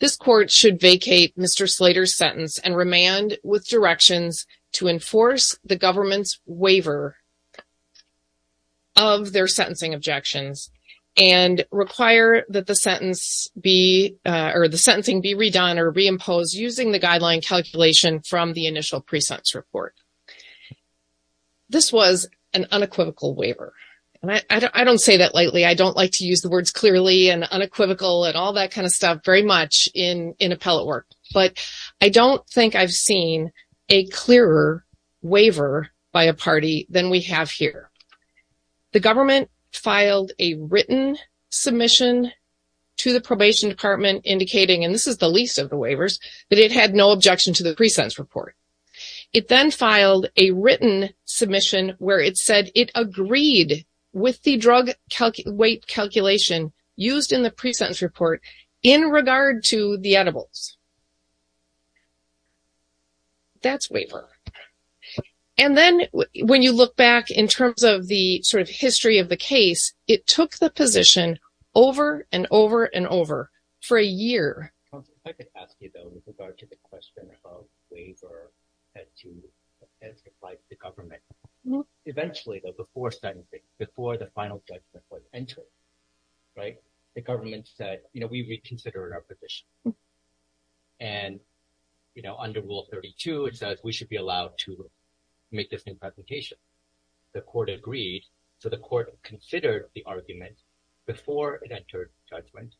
This court should vacate Mr. Slater's sentence and remand with directions to enforce the require that the sentence be or the sentencing be redone or reimposed using the guideline calculation from the initial pre-sentence report. This was an unequivocal waiver and I don't say that lightly. I don't like to use the words clearly and unequivocal and all that kind of stuff very much in appellate work. But I don't think I've seen a clearer waiver by a party than we have here. The government filed a written submission to the probation department indicating, and this is the least of the waivers, that it had no objection to the pre-sentence report. It then filed a written submission where it said it agreed with the drug weight calculation used in the pre-sentence report in regard to the edibles. That's waiver. And then when you look back in terms of the sort of history of the case, it took the position over and over and over for a year. If I could ask you though, with regard to the question of waiver as applied to the government. Eventually, though, before sentencing, before the final judgment was entered, right, the government said, you know, we reconsider our position. And, you know, under rule 32, it says we should be allowed to make this new presentation. The court agreed. So the court considered the argument before it entered judgment.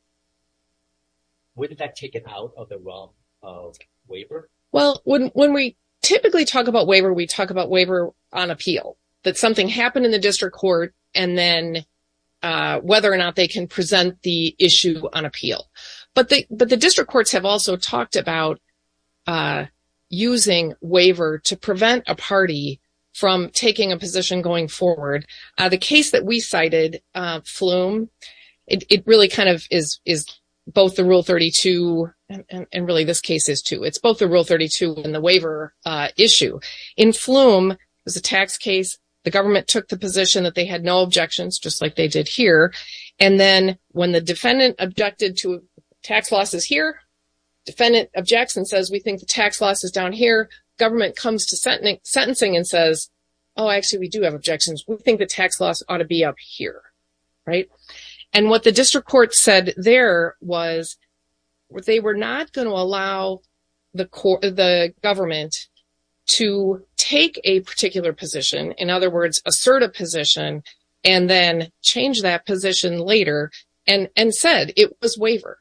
Where did that take it out of the realm of waiver? Well, when we typically talk about waiver, we talk about waiver on appeal. That something happened in the district court and then whether or not they can present the issue on appeal. But the district courts have also talked about using waiver to prevent a party from taking a position going forward. The case that we cited, Flume, it really kind of is both the rule 32 and really this case is too. It's both the rule 32 and the waiver issue. In Flume, it was a tax case. The government took the position that they had no objections, just like they did here. And then when the defendant objected to tax losses here, defendant objects and says, we think the tax loss is down here. Government comes to sentencing and says, oh, actually, we do have objections. We think the tax loss ought to be up here. Right. And what the district court said there was they were not going to allow the government to take a particular position. In other words, assert a position and then change that position later and said it was waiver.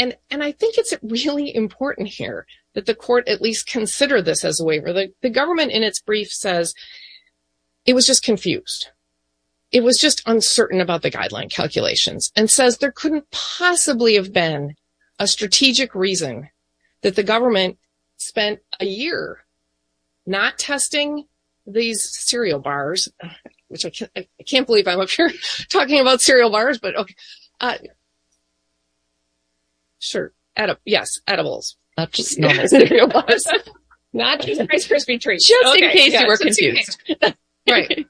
And I think it's really important here that the court at least consider this as a waiver. The government in its brief says it was just confused. It was just uncertain about the guideline calculations and says there couldn't possibly have been a strategic reason that the government spent a year not testing these cereal bars, which I can't believe I'm up here talking about cereal bars, but okay. Sure. Yes. Edibles. Just in case you were confused. Right.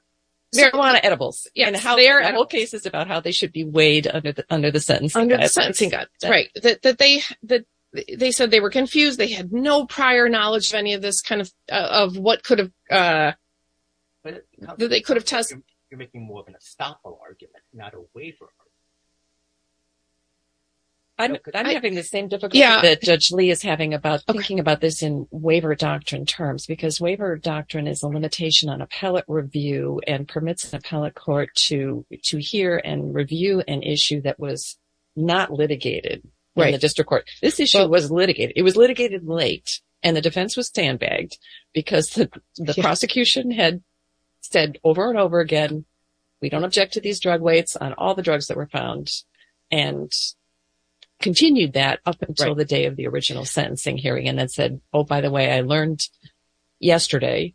There are a lot of edibles and how they are at all cases about how they should be weighed under the sentencing. Right. That they that they said they were confused. They had no prior knowledge of any of this kind of of what could have they could have tested. You're making more about this in waiver doctrine terms, because waiver doctrine is a limitation on appellate review and permits an appellate court to to hear and review an issue that was not litigated. Right. The district court. This issue was litigated. It was litigated late and the defense was sandbagged because the prosecution had said over and over again, we don't object to these drug weights on all the drugs that were found and continued that up until the day of the original sentencing hearing and then said, oh, by the way, I learned yesterday,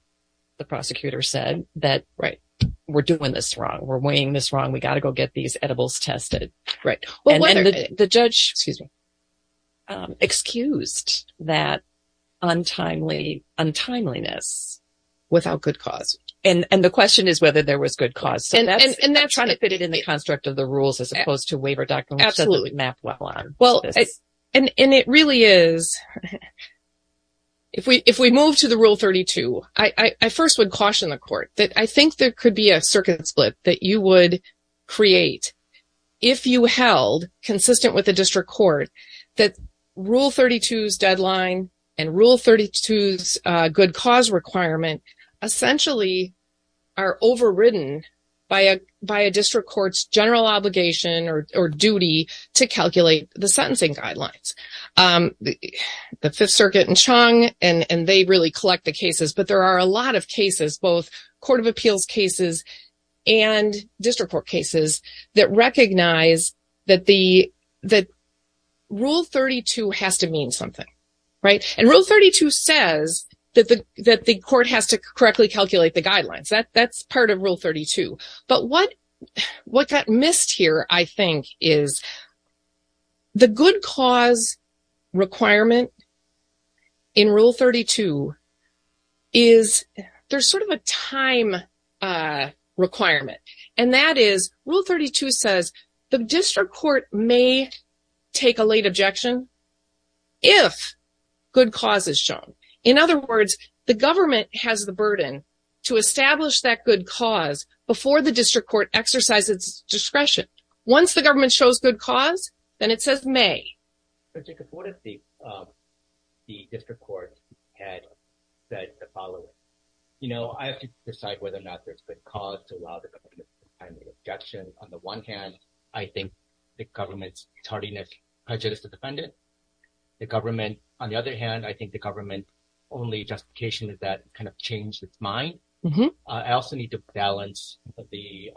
the prosecutor said that, right, we're doing this wrong. We're weighing this wrong. We got to go get these edibles tested. Right. And the judge excused that untimely untimeliness without good cause. And the question is whether there was good cause. And that's trying to fit it in the construct of the rules as opposed to waiver doctrine. Absolutely. Well, and it really is. If we if we move to the Rule 32, I first would caution the court that I think there could be a circuit split that you would create if you held consistent with the district court that Rule 32's deadline and Rule 32's good cause requirement essentially are overridden by a district court's general obligation or duty to calculate the sentencing guidelines. The Fifth Circuit and Chung, and they really collect the cases. But there are a lot of cases, both Court of Appeals cases and district court cases that recognize that the that Rule 32 has to mean something. Right. And Rule 32 says that the court has to correctly calculate the guidelines. That's part of Rule 32. But what what got missed here, I think, is the good cause requirement in Rule 32 is there's sort of a time requirement. And that is Rule 32 says the district court may take a late objection if good cause is shown. In other words, the government has the burden to establish that good cause before the district court exercises discretion. Once the government shows good cause, then it says may. But Jacob, what if the district court had said the following? You know, I have to decide whether or not there's good cause to allow the government to make an objection. On the one hand, I think the government's tardiness prejudiced the defendant. The government, on the other hand, I think the government's only justification is that it kind of changed its mind. I also need to balance the,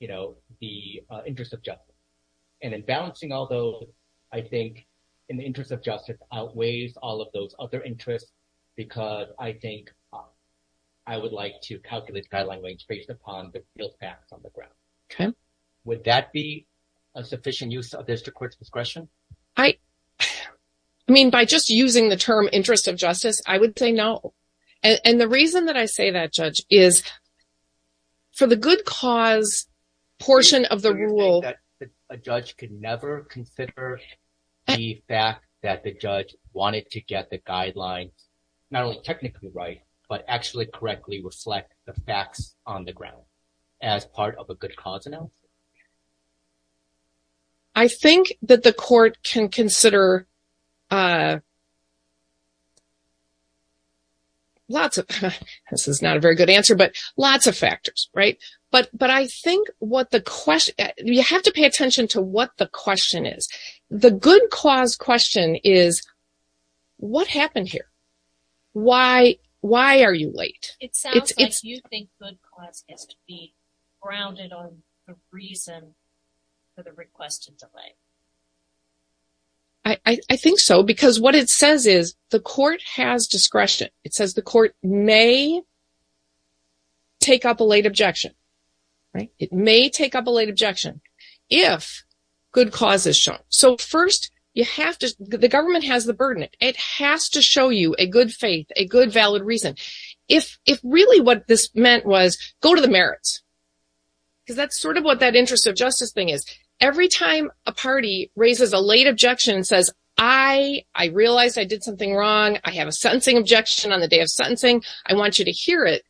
you know, the interest of justice. And in balancing all those, I think in the interest of justice outweighs all of those other interests, because I think I would like to calculate guideline range based upon the field facts on the ground. Would that be a sufficient use of district court's discretion? I mean, by just using the term interest of justice, I would say no. And the reason that I say that, Judge, is for the good cause portion of the rule. A judge could never consider the fact that the judge wanted to get the guidelines not only technically right, but actually correctly reflect the facts on the ground as part of a good cause analysis. I think that the court can consider lots of, this is not a very good answer, but lots of factors, right? But I think what the question, you have to pay attention to what the question is. The good cause question is, what happened here? Why are you late? It sounds like you think good cause has to be grounded on the reason for the request to delay. I think so, because what it says is the court has discretion. It says the court may take up a late objection, right? It may take up a late objection if good cause is shown. So first, you have to, the government has the burden. It has to show you a valid reason. If really what this meant was, go to the merits. Because that's sort of what that interest of justice thing is. Every time a party raises a late objection and says, I realized I did something wrong. I have a sentencing objection on the day of sentencing. I want you to hear it.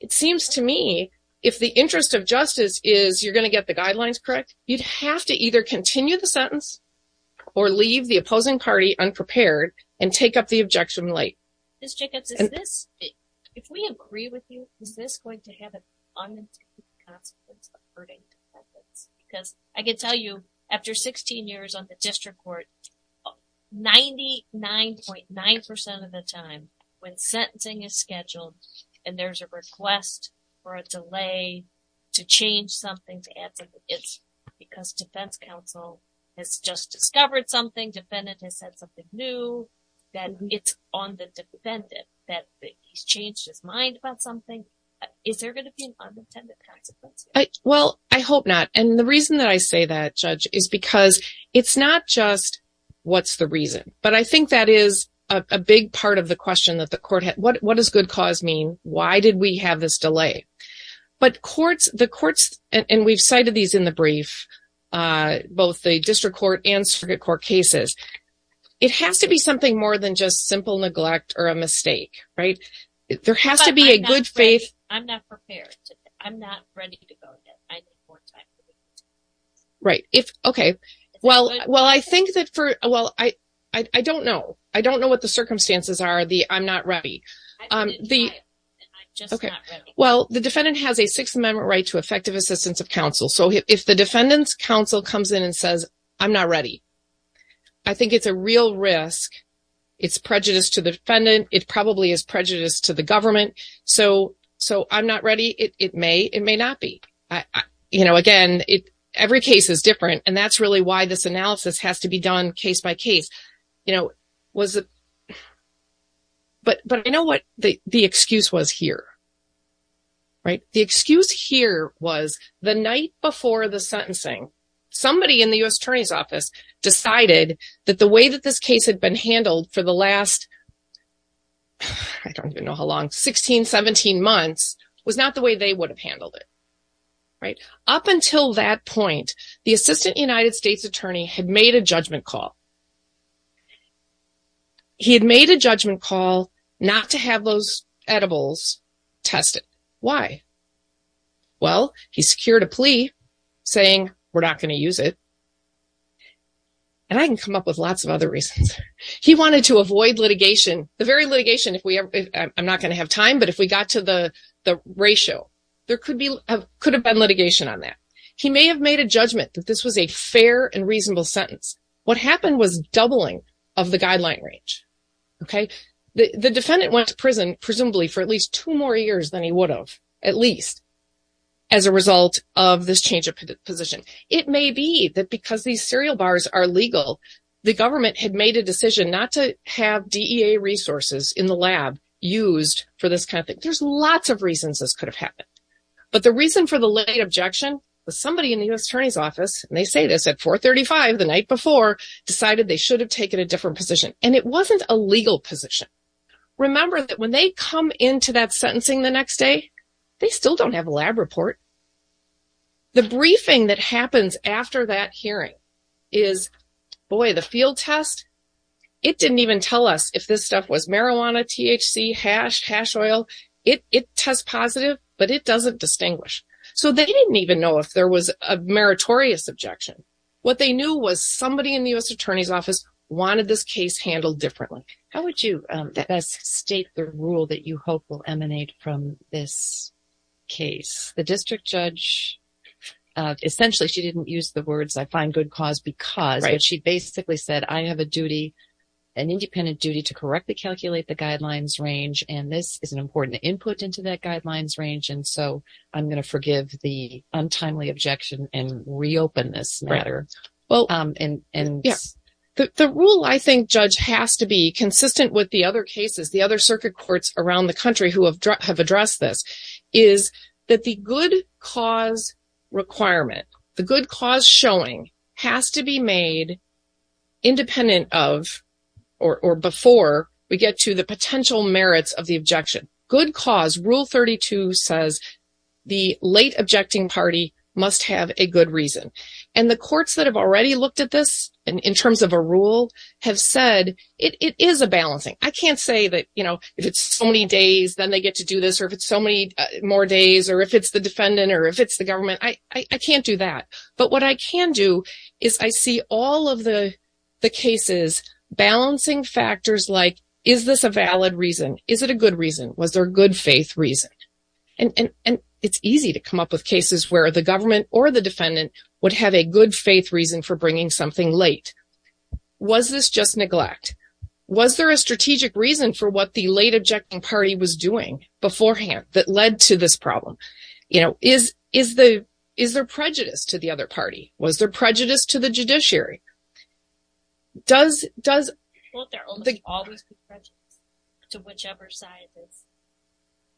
It seems to me if the interest of justice is you're going to get the guidelines correct, you'd have to either continue the sentence or leave the opposing party unprepared and take the objection late. Ms. Jacobs, is this, if we agree with you, is this going to have an unintended consequence of hurting defendants? Because I can tell you after 16 years on the district court, 99.9% of the time when sentencing is scheduled and there's a request for a delay to change something, to add something, it's because defense counsel has just discovered something, defendant has said something new, then it's on the defendant that he's changed his mind about something. Is there going to be an unintended consequence? Well, I hope not. And the reason that I say that, Judge, is because it's not just what's the reason. But I think that is a big part of the question that the court had. What does good cause mean? Why did we have this delay? But courts, and we've cited these in the brief, both the district court and circuit court cases, it has to be something more than just simple neglect or a mistake, right? There has to be a good faith. I'm not prepared. I'm not ready to go yet. Right. If, okay. Well, I think that for, well, I don't know. I don't know what the circumstances are. I'm not ready. The, okay. Well, the defendant has a Sixth Amendment right to effective assistance of counsel. So, if the defendant's counsel comes in and says, I'm not ready, I think it's a real risk. It's prejudice to the defendant. It probably is prejudice to the government. So, I'm not ready. It may, it may not be. You know, again, every case is different. And that's really why this But I know what the excuse was here, right? The excuse here was the night before the sentencing, somebody in the U.S. Attorney's Office decided that the way that this case had been handled for the last, I don't even know how long, 16, 17 months was not the way they would have handled it, right? Up until that point, the Assistant United States Attorney had made a judgment call. He had made a judgment call not to have those edibles tested. Why? Well, he secured a plea saying, we're not going to use it. And I can come up with lots of other reasons. He wanted to avoid litigation. The very litigation, if we ever, I'm not going to have time, but if we got to the ratio, there could be, could have been litigation on that. He may have made a judgment that this was a fair and reasonable sentence. What happened was doubling of the guideline range, okay? The defendant went to prison, presumably for at least two more years than he would have, at least, as a result of this change of position. It may be that because these serial bars are legal, the government had made a decision not to have DEA resources in the lab used for this kind of thing. There's lots of reasons this could have happened. But the reason for the late objection was somebody in the U.S. Attorney's Office, and they say this at 435 the night before, decided they should have taken a different position. And it wasn't a legal position. Remember that when they come into that sentencing the next day, they still don't have a lab report. The briefing that happens after that hearing is, boy, the field test, it didn't even tell us if this stuff was marijuana, THC, hash, hash oil. It tests positive, but it doesn't distinguish. So, they didn't even know if there was a meritorious objection. What they knew was somebody in the U.S. Attorney's Office wanted this case handled differently. Maura, how would you best state the rule that you hope will emanate from this case? The district judge, essentially, she didn't use the words, I find good cause because, but she basically said, I have a duty, an independent duty, to correctly calculate the guidelines range. And this is an important input into that guidelines range. And so, I'm going to forgive the untimely objection and reopen this matter. The rule I think, Judge, has to be consistent with the other cases, the other circuit courts around the country who have addressed this, is that the good cause requirement, the good cause showing, has to be made independent of, or before we get to the potential merits of the objection. Good cause, Rule 32 says, the late objecting party must have a good reason. And the courts that have already looked at this, in terms of a rule, have said, it is a balancing. I can't say that, you know, if it's so many days, then they get to do this, or if it's so many more days, or if it's the defendant, or if it's the government, I can't do that. But what I can do, is I see all of the cases balancing factors like, is this a valid reason? Is it a good reason? Was there a good faith reason? And it's easy to come up with cases where the government or the defendant would have a good faith reason for bringing something late. Was this just neglect? Was there a strategic reason for what the late objecting party was doing beforehand that led to this problem? You know, is there prejudice to the other party? Was there prejudice to the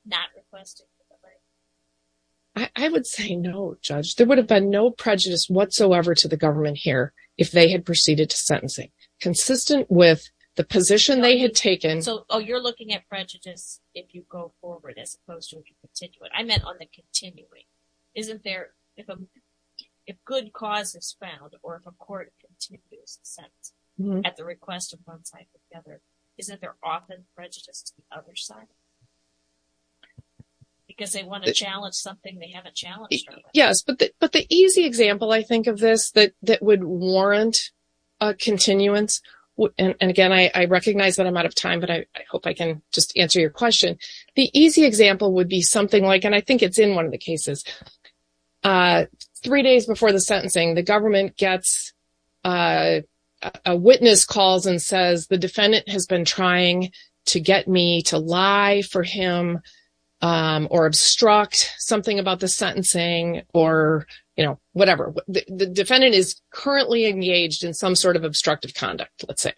not requesting for the right? I would say no, Judge. There would have been no prejudice whatsoever to the government here, if they had proceeded to sentencing. Consistent with the position they had taken. So, oh, you're looking at prejudice if you go forward, as opposed to if you continue it. I meant on the continuing. Isn't there, if good cause is found, or if a court continues a sentence, at the request of one side or the other, isn't there often prejudice to the other side? Because they want to challenge something they haven't challenged. Yes, but the easy example, I think, of this that would warrant a continuance, and again, I recognize that I'm out of time, but I hope I can just answer your question. The easy example would be something like, and I think it's in one of the cases, three days before the sentencing, the government gets a witness calls and says, the defendant has been trying to get me to lie for him, or obstruct something about the sentencing, or whatever. The defendant is currently engaged in some sort of obstructive conduct, let's say.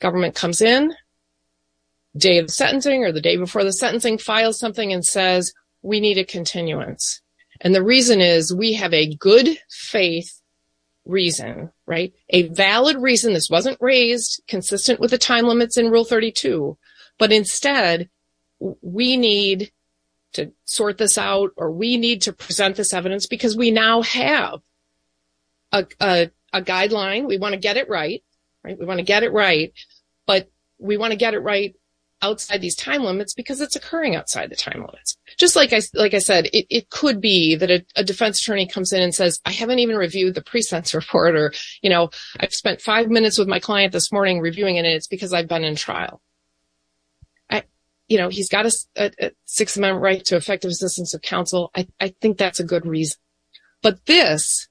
Government comes in, day of the sentencing, or the day before the sentencing, files something and says, we need a continuance. And the reason is, we have a good faith reason, right? A valid reason, this wasn't raised consistent with the time limits in Rule 32. But instead, we need to sort this out, or we need to present this evidence, because we now have a guideline, we want to get it right, right? We want to get it right. But we want to get it right, outside these time limits, because it's occurring outside the time limits. Just like I said, it could be that a defense attorney comes in and says, I haven't even reviewed the pre-sentence report, or, you know, I've spent five minutes with my client this morning reviewing it, it's because I've been in trial. I, you know, he's got a sixth amendment right to effective assistance of counsel, I think that's a good reason. But this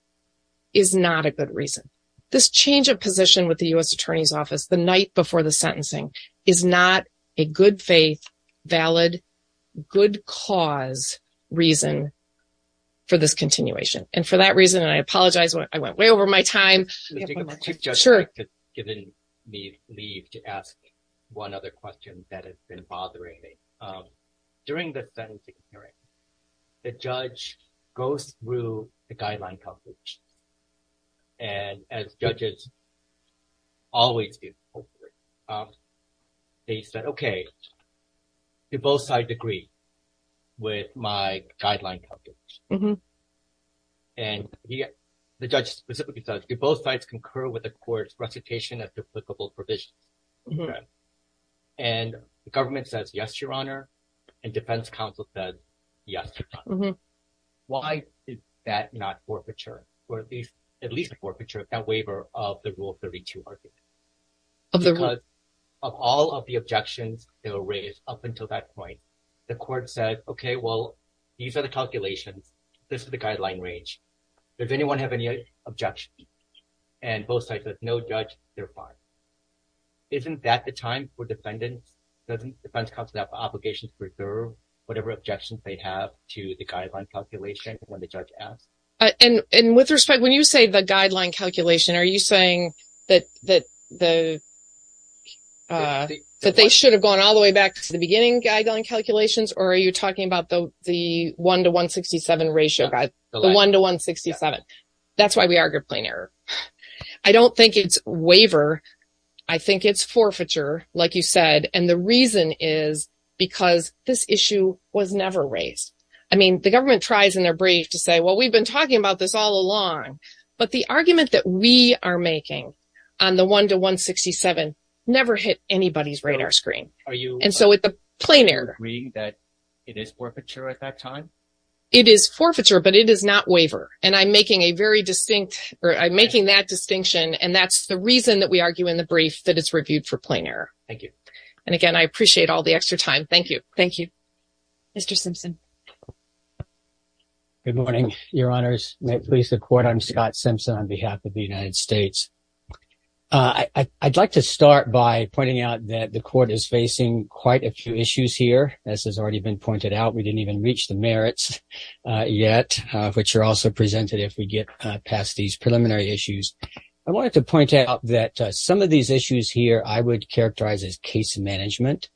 is not a good reason. This change of position with the US Attorney's Office the night before the sentencing is not a good faith, valid, good cause reason for this continuation. And for that reason, I apologize, I went way over my time. Sure. You've given me leave to ask one other question that has been bothering me. During the sentencing hearing, the judge goes through the guideline coverage. And as judges always do, they said, okay, do both sides agree with my guideline coverage? And the judge specifically says, do both sides concur with the court's recitation of duplicable provisions? And the government says, yes, Your Honor. And defense counsel says, yes, Your Honor. Why is that not forfeiture, or at least forfeiture of that waiver of the Rule 32? Because of all of the objections that were raised up until that point, the court said, okay, well, these are the calculations. This is the guideline range. If anyone has any objections, and both sides have no judge, they're fine. Isn't that the time for defendants? Doesn't defense counsel have obligations to preserve whatever objections they have to the guideline calculation when the judge asks? And with respect, when you say the guideline calculation, are you saying that the should have gone all the way back to the beginning guideline calculations? Or are you talking about the 1 to 167 ratio, the 1 to 167? That's why we argued plain error. I don't think it's waiver. I think it's forfeiture, like you said. And the reason is because this issue was never raised. I mean, the government tries in their brief to say, well, we've been talking about this all along. But the argument that we are making on the 1 to 167 never hit anybody's radar screen. And so it's a plain error. Are you agreeing that it is forfeiture at that time? It is forfeiture, but it is not waiver. And I'm making a very distinct, or I'm making that distinction. And that's the reason that we argue in the brief that it's reviewed for plain error. Thank you. And again, I appreciate all the extra time. Thank you. Thank you. Mr. Simpson. Good morning, Your Honors. May it please the court. I'm Scott Simpson on behalf of the United States. I'd like to start by pointing out that the court is facing quite a few issues here, as has already been pointed out. We didn't even reach the merits yet, which are also presented if we get past these preliminary issues. I wanted to point out that some of these issues here I would characterize as case management.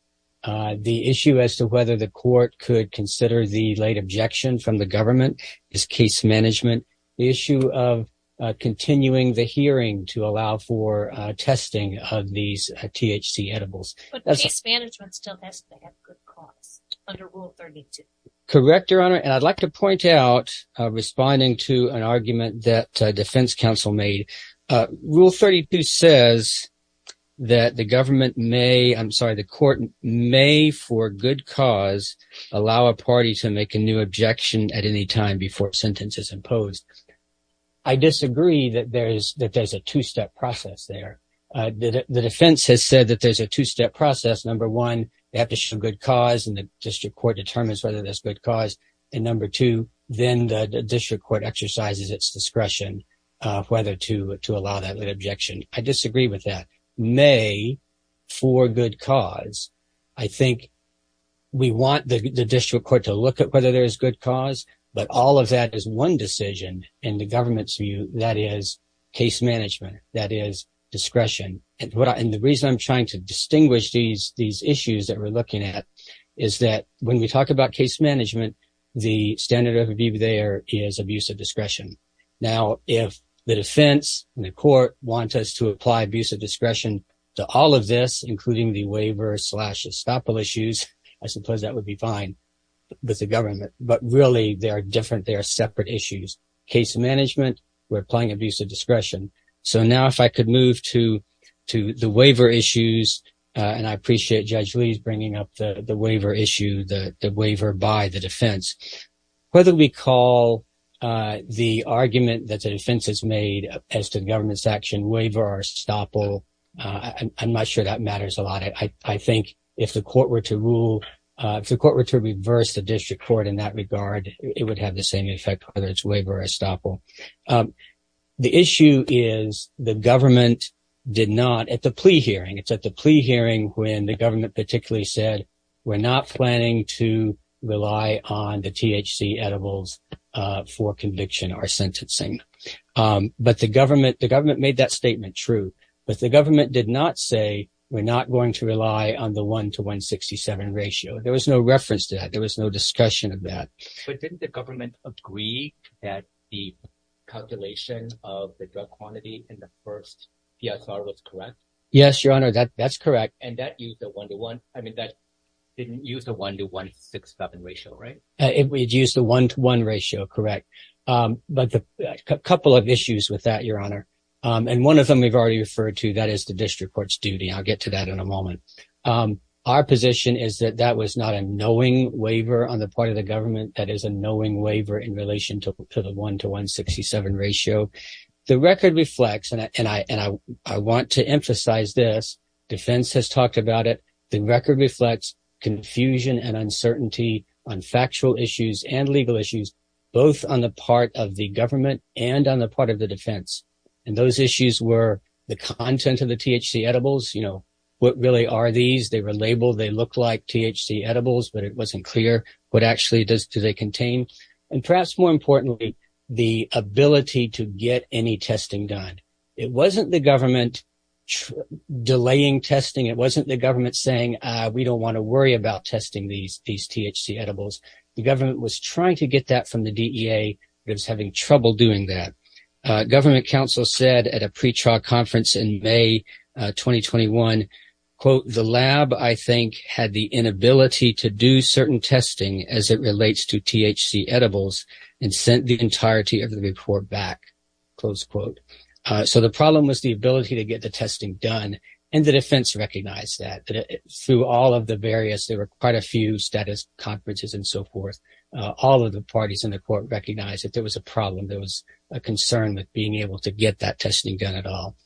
The issue as to whether the court could consider the late objection from the government is case management. The issue of continuing the hearing to allow for testing of these THC edibles. But case management still has to have good cause under Rule 32. Correct, Your Honor. And I'd like to point out, responding to an argument that defense counsel made, Rule 32 says that the government may, I'm sorry, the court may, for good cause, allow a party to make a new objection at any time before sentence is imposed. I disagree that there's a two-step process there. The defense has said that there's a two-step process. Number one, they have to show good cause, and the district court determines whether there's good cause. And number two, then the district court exercises its discretion whether to allow that late objection. I disagree with that. May, for good cause. I think we want the district court to look at whether there is good cause, but all of that is one decision in the government's view. That is case management. That is discretion. And the reason I'm trying to distinguish these issues that we're looking at is that when we talk about case management, the standard of review there is abuse of discretion. Now, if the defense and the court want us to apply abuse of discretion to all of this, including the waiver slash estoppel issues, I suppose that would be fine with the government. But really, they are different. They are separate issues. Case management, we're applying abuse of discretion. So now if I could move to the waiver issues, and I appreciate Judge Lee's bringing up the waiver issue, the waiver by the defense. Whether we call the argument that the defense has made as to the government's action, waiver or estoppel, I'm not sure that matters a lot. I think if the court were to rule, if the court were to reverse the district court in that regard, it would have the same effect, whether it's waiver or estoppel. The issue is the government did not, at the plea hearing, it's at the plea hearing when the government particularly said, we're not planning to rely on the THC edibles for conviction or sentencing. But the government made that statement true. But the government did not say, we're not going to rely on the 1 to 167 ratio. There was no reference to that. There was no reference to the 1 to 167 ratio. So the question is, does the government agree that the calculation of the drug quantity in the first PSR was correct? Yes, Your Honor, that's correct. And that used a 1 to 1, I mean, that didn't use the 1 to 167 ratio, right? It would use the 1 to 1 ratio, correct. But a couple of issues with that, Your Honor. And one of them we've already referred to, that is the district court's duty. I'll get to that in a moment. Our position is that that was not a knowing waiver on the part of the government. That is a knowing waiver in relation to the 1 to 167 ratio. The record reflects, and I want to emphasize this, defense has talked about it, the record reflects confusion and uncertainty on factual issues and legal issues, both on the part of the government and on the part of the defense. And those issues were the content of the THC edibles, you know, what really are these? They were labeled, they and perhaps more importantly, the ability to get any testing done. It wasn't the government delaying testing. It wasn't the government saying, we don't want to worry about testing these THC edibles. The government was trying to get that from the DEA. It was having trouble doing that. Government counsel said at a pre-trial conference in May 2021, quote, the lab, I think, had the and sent the entirety of the report back, close quote. So the problem was the ability to get the testing done. And the defense recognized that through all of the various, there were quite a few status conferences and so forth. All of the parties in the court recognized that there was a problem. There was a concern with being able to get that testing done at all.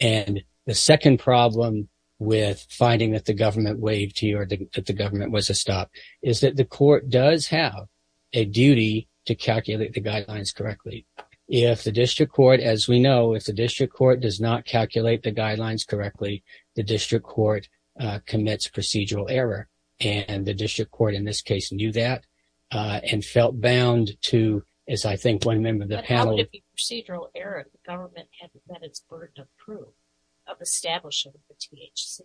And the second problem with finding that the government waived here, that the government was a stop, is that the court does have a duty to calculate the guidelines correctly. If the district court, as we know, if the district court does not calculate the guidelines correctly, the district court commits procedural error. And the district court, in this case, knew that and felt bound to, as I think one member of the panel. But how could it be procedural error if the government hadn't met its burden of proof of establishing the THC?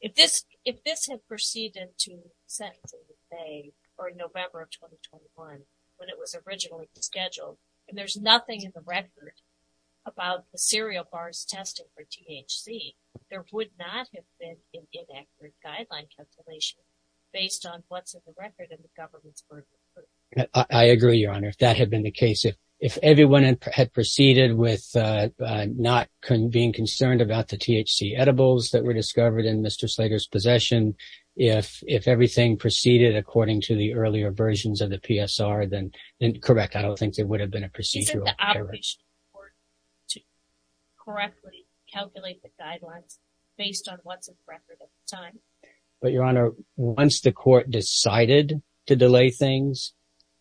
If this had proceeded to sentencing in May or November of 2021, when it was originally scheduled, and there's nothing in the record about the cereal bars testing for THC, there would not have been an inaccurate guideline calculation based on what's in the record and the government's burden of proof. I agree, Your Honor, if that had been the case. If everyone had proceeded with not being concerned about the THC edibles that were discovered in Mr. Slater's possession, if everything proceeded according to the earlier versions of the PSR, then correct. I don't think there would have been a procedural error. Is it the obligation of the court to correctly calculate the guidelines based on what's in the record at the time? But Your Honor, once the court decided to delay things,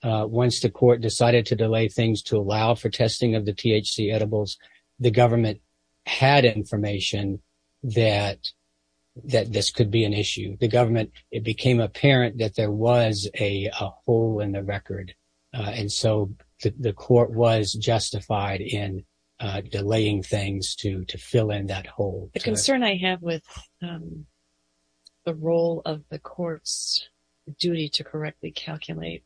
once the court decided to delay things to allow for testing of the THC edibles, the government had information that this could be an issue. The government, it became apparent that there was a hole in the record. And so the court was justified in delaying things to fill in that hole. The concern I have with the role of the court's duty to correctly calculate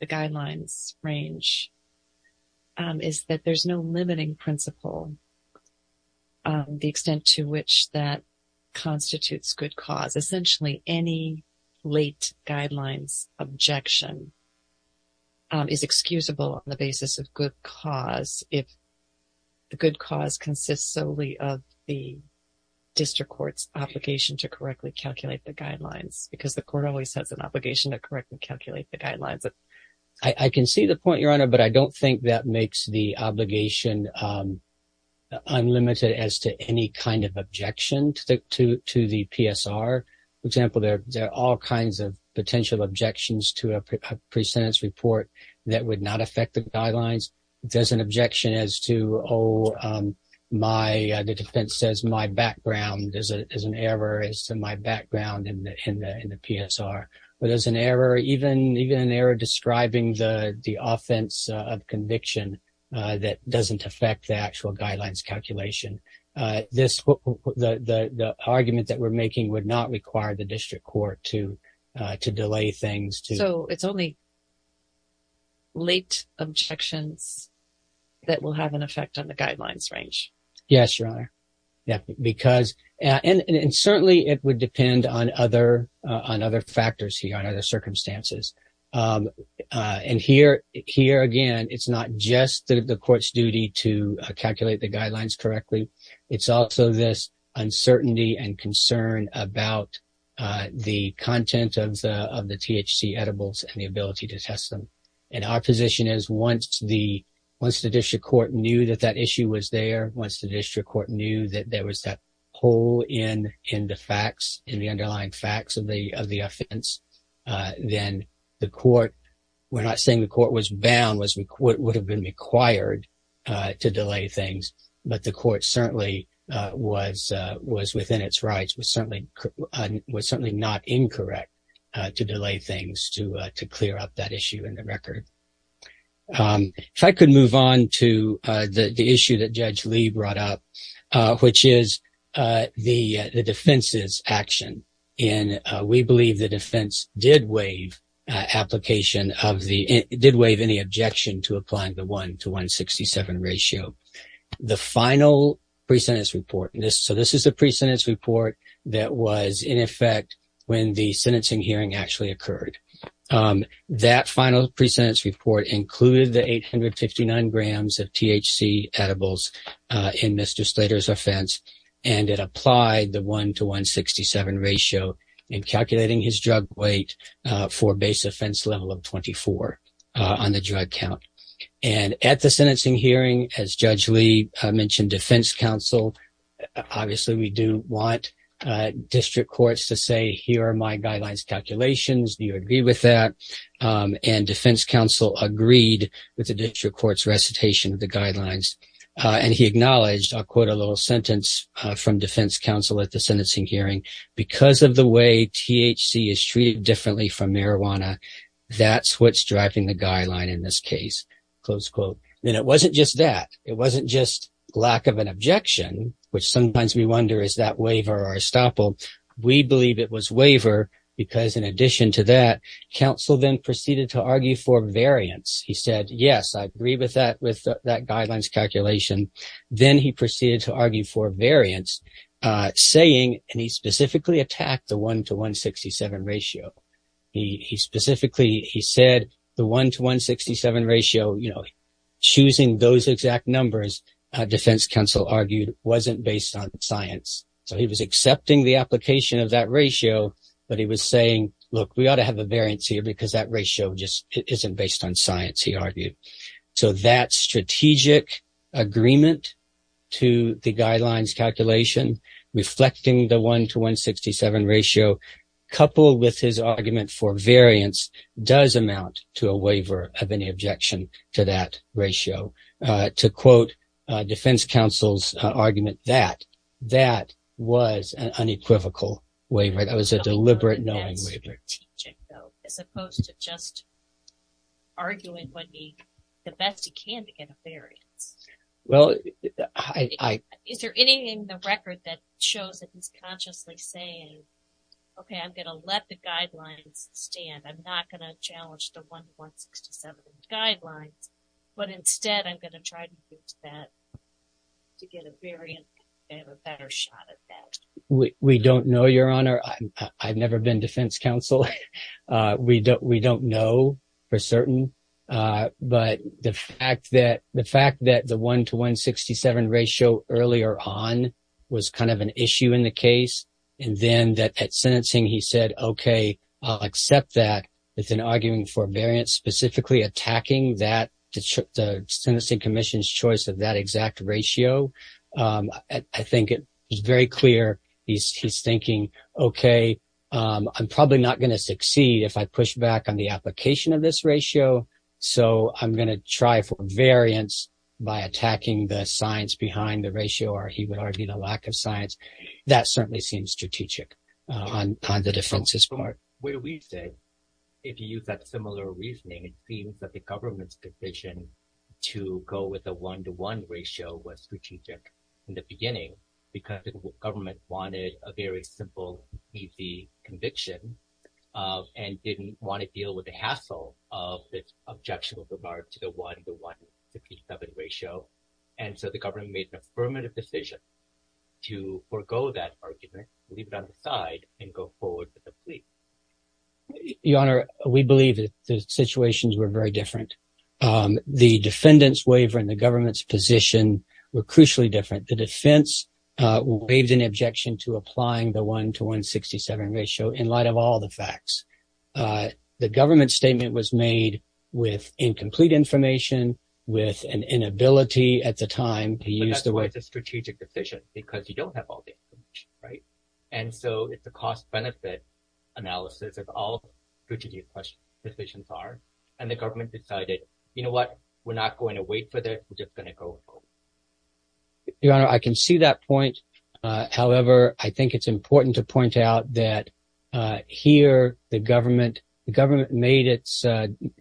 the guidelines range is that there's no limiting principle on the extent to which that constitutes good cause. Essentially, any late guidelines objection is excusable on the basis of good cause if the good cause consists solely of the district court's obligation to correctly calculate the guidelines, because the court always has an obligation to calculate the guidelines. I can see the point, Your Honor, but I don't think that makes the obligation unlimited as to any kind of objection to the PSR. For example, there are all kinds of potential objections to a pre-sentence report that would not affect the guidelines. If there's an objection as to, oh, the defense says my background is an error, is my background in the PSR, or there's an error, even an error describing the offense of conviction that doesn't affect the actual guidelines calculation, the argument that we're making would not require the district court to delay things. So it's only late objections that will have an effect on the guidelines range? Yes, Your Honor. And certainly, it would depend on other factors here, on other circumstances. And here, again, it's not just the court's duty to calculate the guidelines correctly. It's also this uncertainty and concern about the content of the THC edibles and the ability to test them. And our position is once the district court knew that that issue was there, once the district court knew that there was that hole in the facts, in the underlying facts of the offense, then the court, we're not saying the court was bound, would have been required to delay things, but the court certainly was within its rights, was certainly not incorrect to delay things to clear up that record. If I could move on to the issue that Judge Lee brought up, which is the defense's action. And we believe the defense did waive application of the, did waive any objection to applying the 1 to 167 ratio. The final pre-sentence report, so this is the pre-sentence report that was in effect when the sentencing hearing actually occurred, that final pre-sentence report included the 859 grams of THC edibles in Mr. Slater's offense. And it applied the 1 to 167 ratio in calculating his drug weight for base offense level of 24 on the drug count. And at the sentencing hearing, as Judge Lee said, the defense counsel, obviously we do want district courts to say, here are my guidelines calculations, do you agree with that? And defense counsel agreed with the district court's recitation of the guidelines. And he acknowledged, I'll quote a little sentence from defense counsel at the sentencing hearing, because of the way THC is treated differently from marijuana, that's what's driving the guideline in this case, close quote. And it wasn't just that, it wasn't just lack of an objection, which sometimes we wonder is that waiver or estoppel? We believe it was waiver, because in addition to that, counsel then proceeded to argue for variance. He said, yes, I agree with that, with that guidelines calculation. Then he proceeded to argue for variance, saying, and he specifically attacked the 1 to 167 ratio. He specifically, he said the 1 to 167 ratio, you know, choosing those exact numbers, defense counsel argued, wasn't based on science. So he was accepting the application of that ratio, but he was saying, look, we ought to have a variance here, because that ratio just isn't based on science, he argued. So that strategic agreement to the guidelines calculation, reflecting the 1 to 167 ratio, coupled with his argument for variance, does amount to a waiver of objection to that ratio. To quote defense counsel's argument, that was an unequivocal waiver, that was a deliberate knowing waiver. As opposed to just arguing the best he can to get a variance. Is there anything in the record that shows that he's consciously saying, okay, I'm going to let the guidelines stand, I'm not going to challenge the 1 to 167 guidelines, but instead I'm going to try to get to that, to get a variance, to have a better shot at that? We don't know, your honor. I've never been defense counsel. We don't know for certain, but the fact that the 1 to 167 ratio earlier on was kind of an issue in the case, and then at sentencing he said, okay, I'll accept that, but then arguing for variance, specifically attacking the sentencing commission's choice of that exact ratio, I think it was very clear he's thinking, okay, I'm probably not going to succeed if I push back on the application of this ratio, so I'm going to try for variance by attacking the science behind the ratio, or he would argue the lack of science. That certainly seems strategic on the defenses. What we say, if you use that similar reasoning, it seems that the government's decision to go with the 1 to 1 ratio was strategic in the beginning because the government wanted a very simple, easy conviction and didn't want to deal with the hassle of this objectionable to the 1 to 167 ratio, and so the government made an affirmative decision to forego that argument, leave it on the side, and go forward with the plea. Your honor, we believe that the situations were very different. The defendant's waiver and the government's position were crucially different. The defense waived an objection to applying the 1 to 167 ratio in light of all the facts. The government's statement was made with incomplete information, with an inability at the time. But that's why it's a strategic decision because you don't have all the information, right? And so it's a cost-benefit analysis of all strategic decisions are, and the government decided, you know what, we're not going to wait for this, we're just going to go forward. Your honor, I can see that point. However, I think it's important to point out that here, the government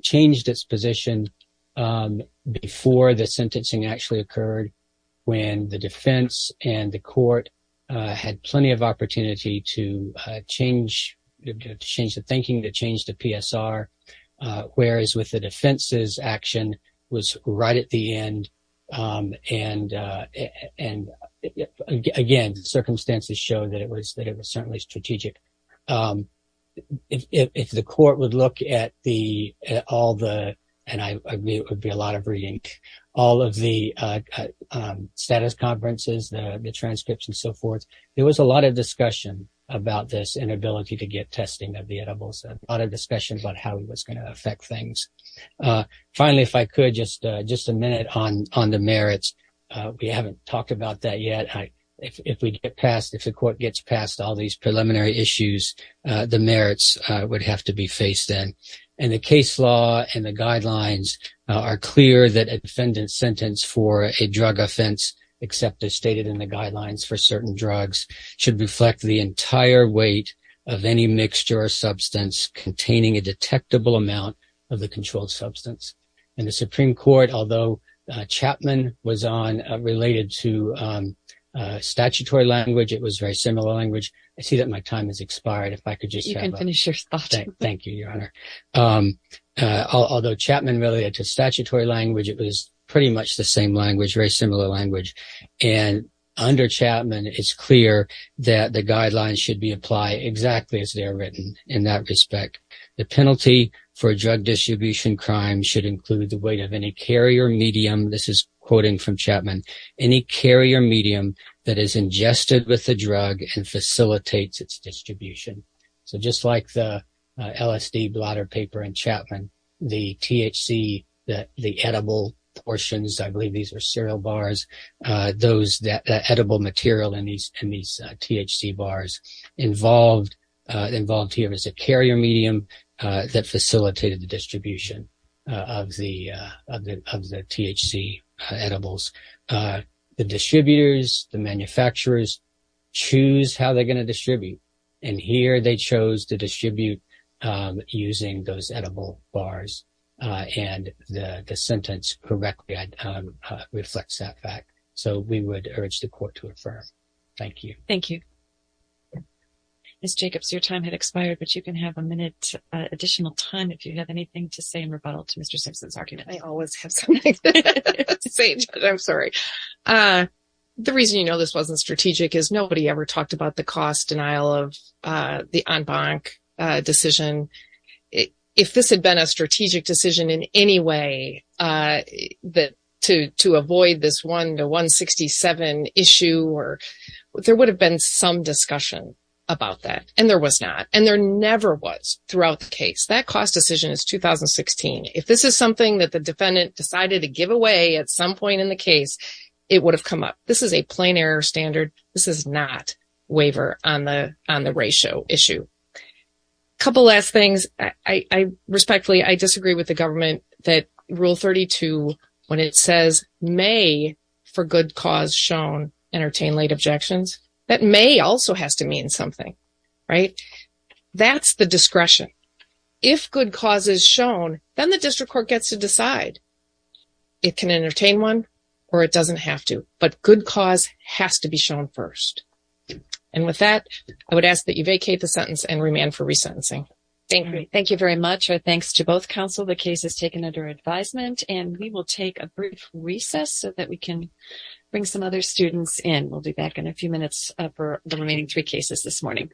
changed its position before the sentencing actually occurred, when the defense and the court had plenty of opportunity to change the thinking, to change the PSR, whereas with the defense's action was right at the end, and again, the circumstances show that it was certainly strategic. If the court would look at all the, and I agree, it would be a lot of reading, all of the status conferences, the transcripts and so forth, there was a lot of discussion about this inability to get testing of the edibles, a lot of discussions about how it was going to affect things. Finally, if I could, just a minute on the merits. We haven't talked about that yet. If we get past, if the court gets past all these preliminary issues, the merits would have to be faced then. And the case law and the guidelines are clear that a defendant's sentence for a drug offense, except as stated in the guidelines for certain drugs, should reflect the entire weight of any mixture or substance containing a detectable amount of the controlled substance. In the Supreme Court, although Chapman was on, related to statutory language, it was very similar language. I see that my time has expired. If I could just finish your thought. Thank you, Your Honor. Although Chapman related to statutory language, it was pretty much the same language, very similar language. And under Chapman, it's clear that the guidelines should be applied exactly as they're written in that respect. The penalty for a drug distribution crime should include the weight of any carrier medium, this is quoting from Chapman, any carrier medium that is ingested with the drug and facilitates its distribution. So just like the LSD blotter paper in Chapman, the THC, the edible portions, I believe these are cereal bars, those that involved here is a carrier medium that facilitated the distribution of the THC edibles. The distributors, the manufacturers, choose how they're going to distribute. And here they chose to distribute using those edible bars. And the sentence correctly reflects that fact. So we would expire, but you can have a minute additional time if you have anything to say in rebuttal to Mr. Simpson's argument. I always have something to say. I'm sorry. The reason you know this wasn't strategic is nobody ever talked about the cost denial of the en banc decision. If this had been a strategic decision in any way to avoid this 167 issue, there would have been some discussion about that, and there was not. And there never was throughout the case. That cost decision is 2016. If this is something that the defendant decided to give away at some point in the case, it would have come up. This is a plain error standard. This is not waiver on the ratio issue. A couple last things. I respectfully, I disagree with the government that Rule 32, when it says may for good cause shown, entertain late objections. That may also has to mean something, right? That's the discretion. If good cause is shown, then the district court gets to decide it can entertain one or it doesn't have to. But good cause has to be shown first. And with that, I would ask that you vacate the sentence and remand for resentencing. Thank you. Thank you very much. Our thanks to both counsel. The case is taken under advisement, and we will take a brief recess so that we can bring some other students in. We'll be back in a few minutes for the remaining three cases this morning.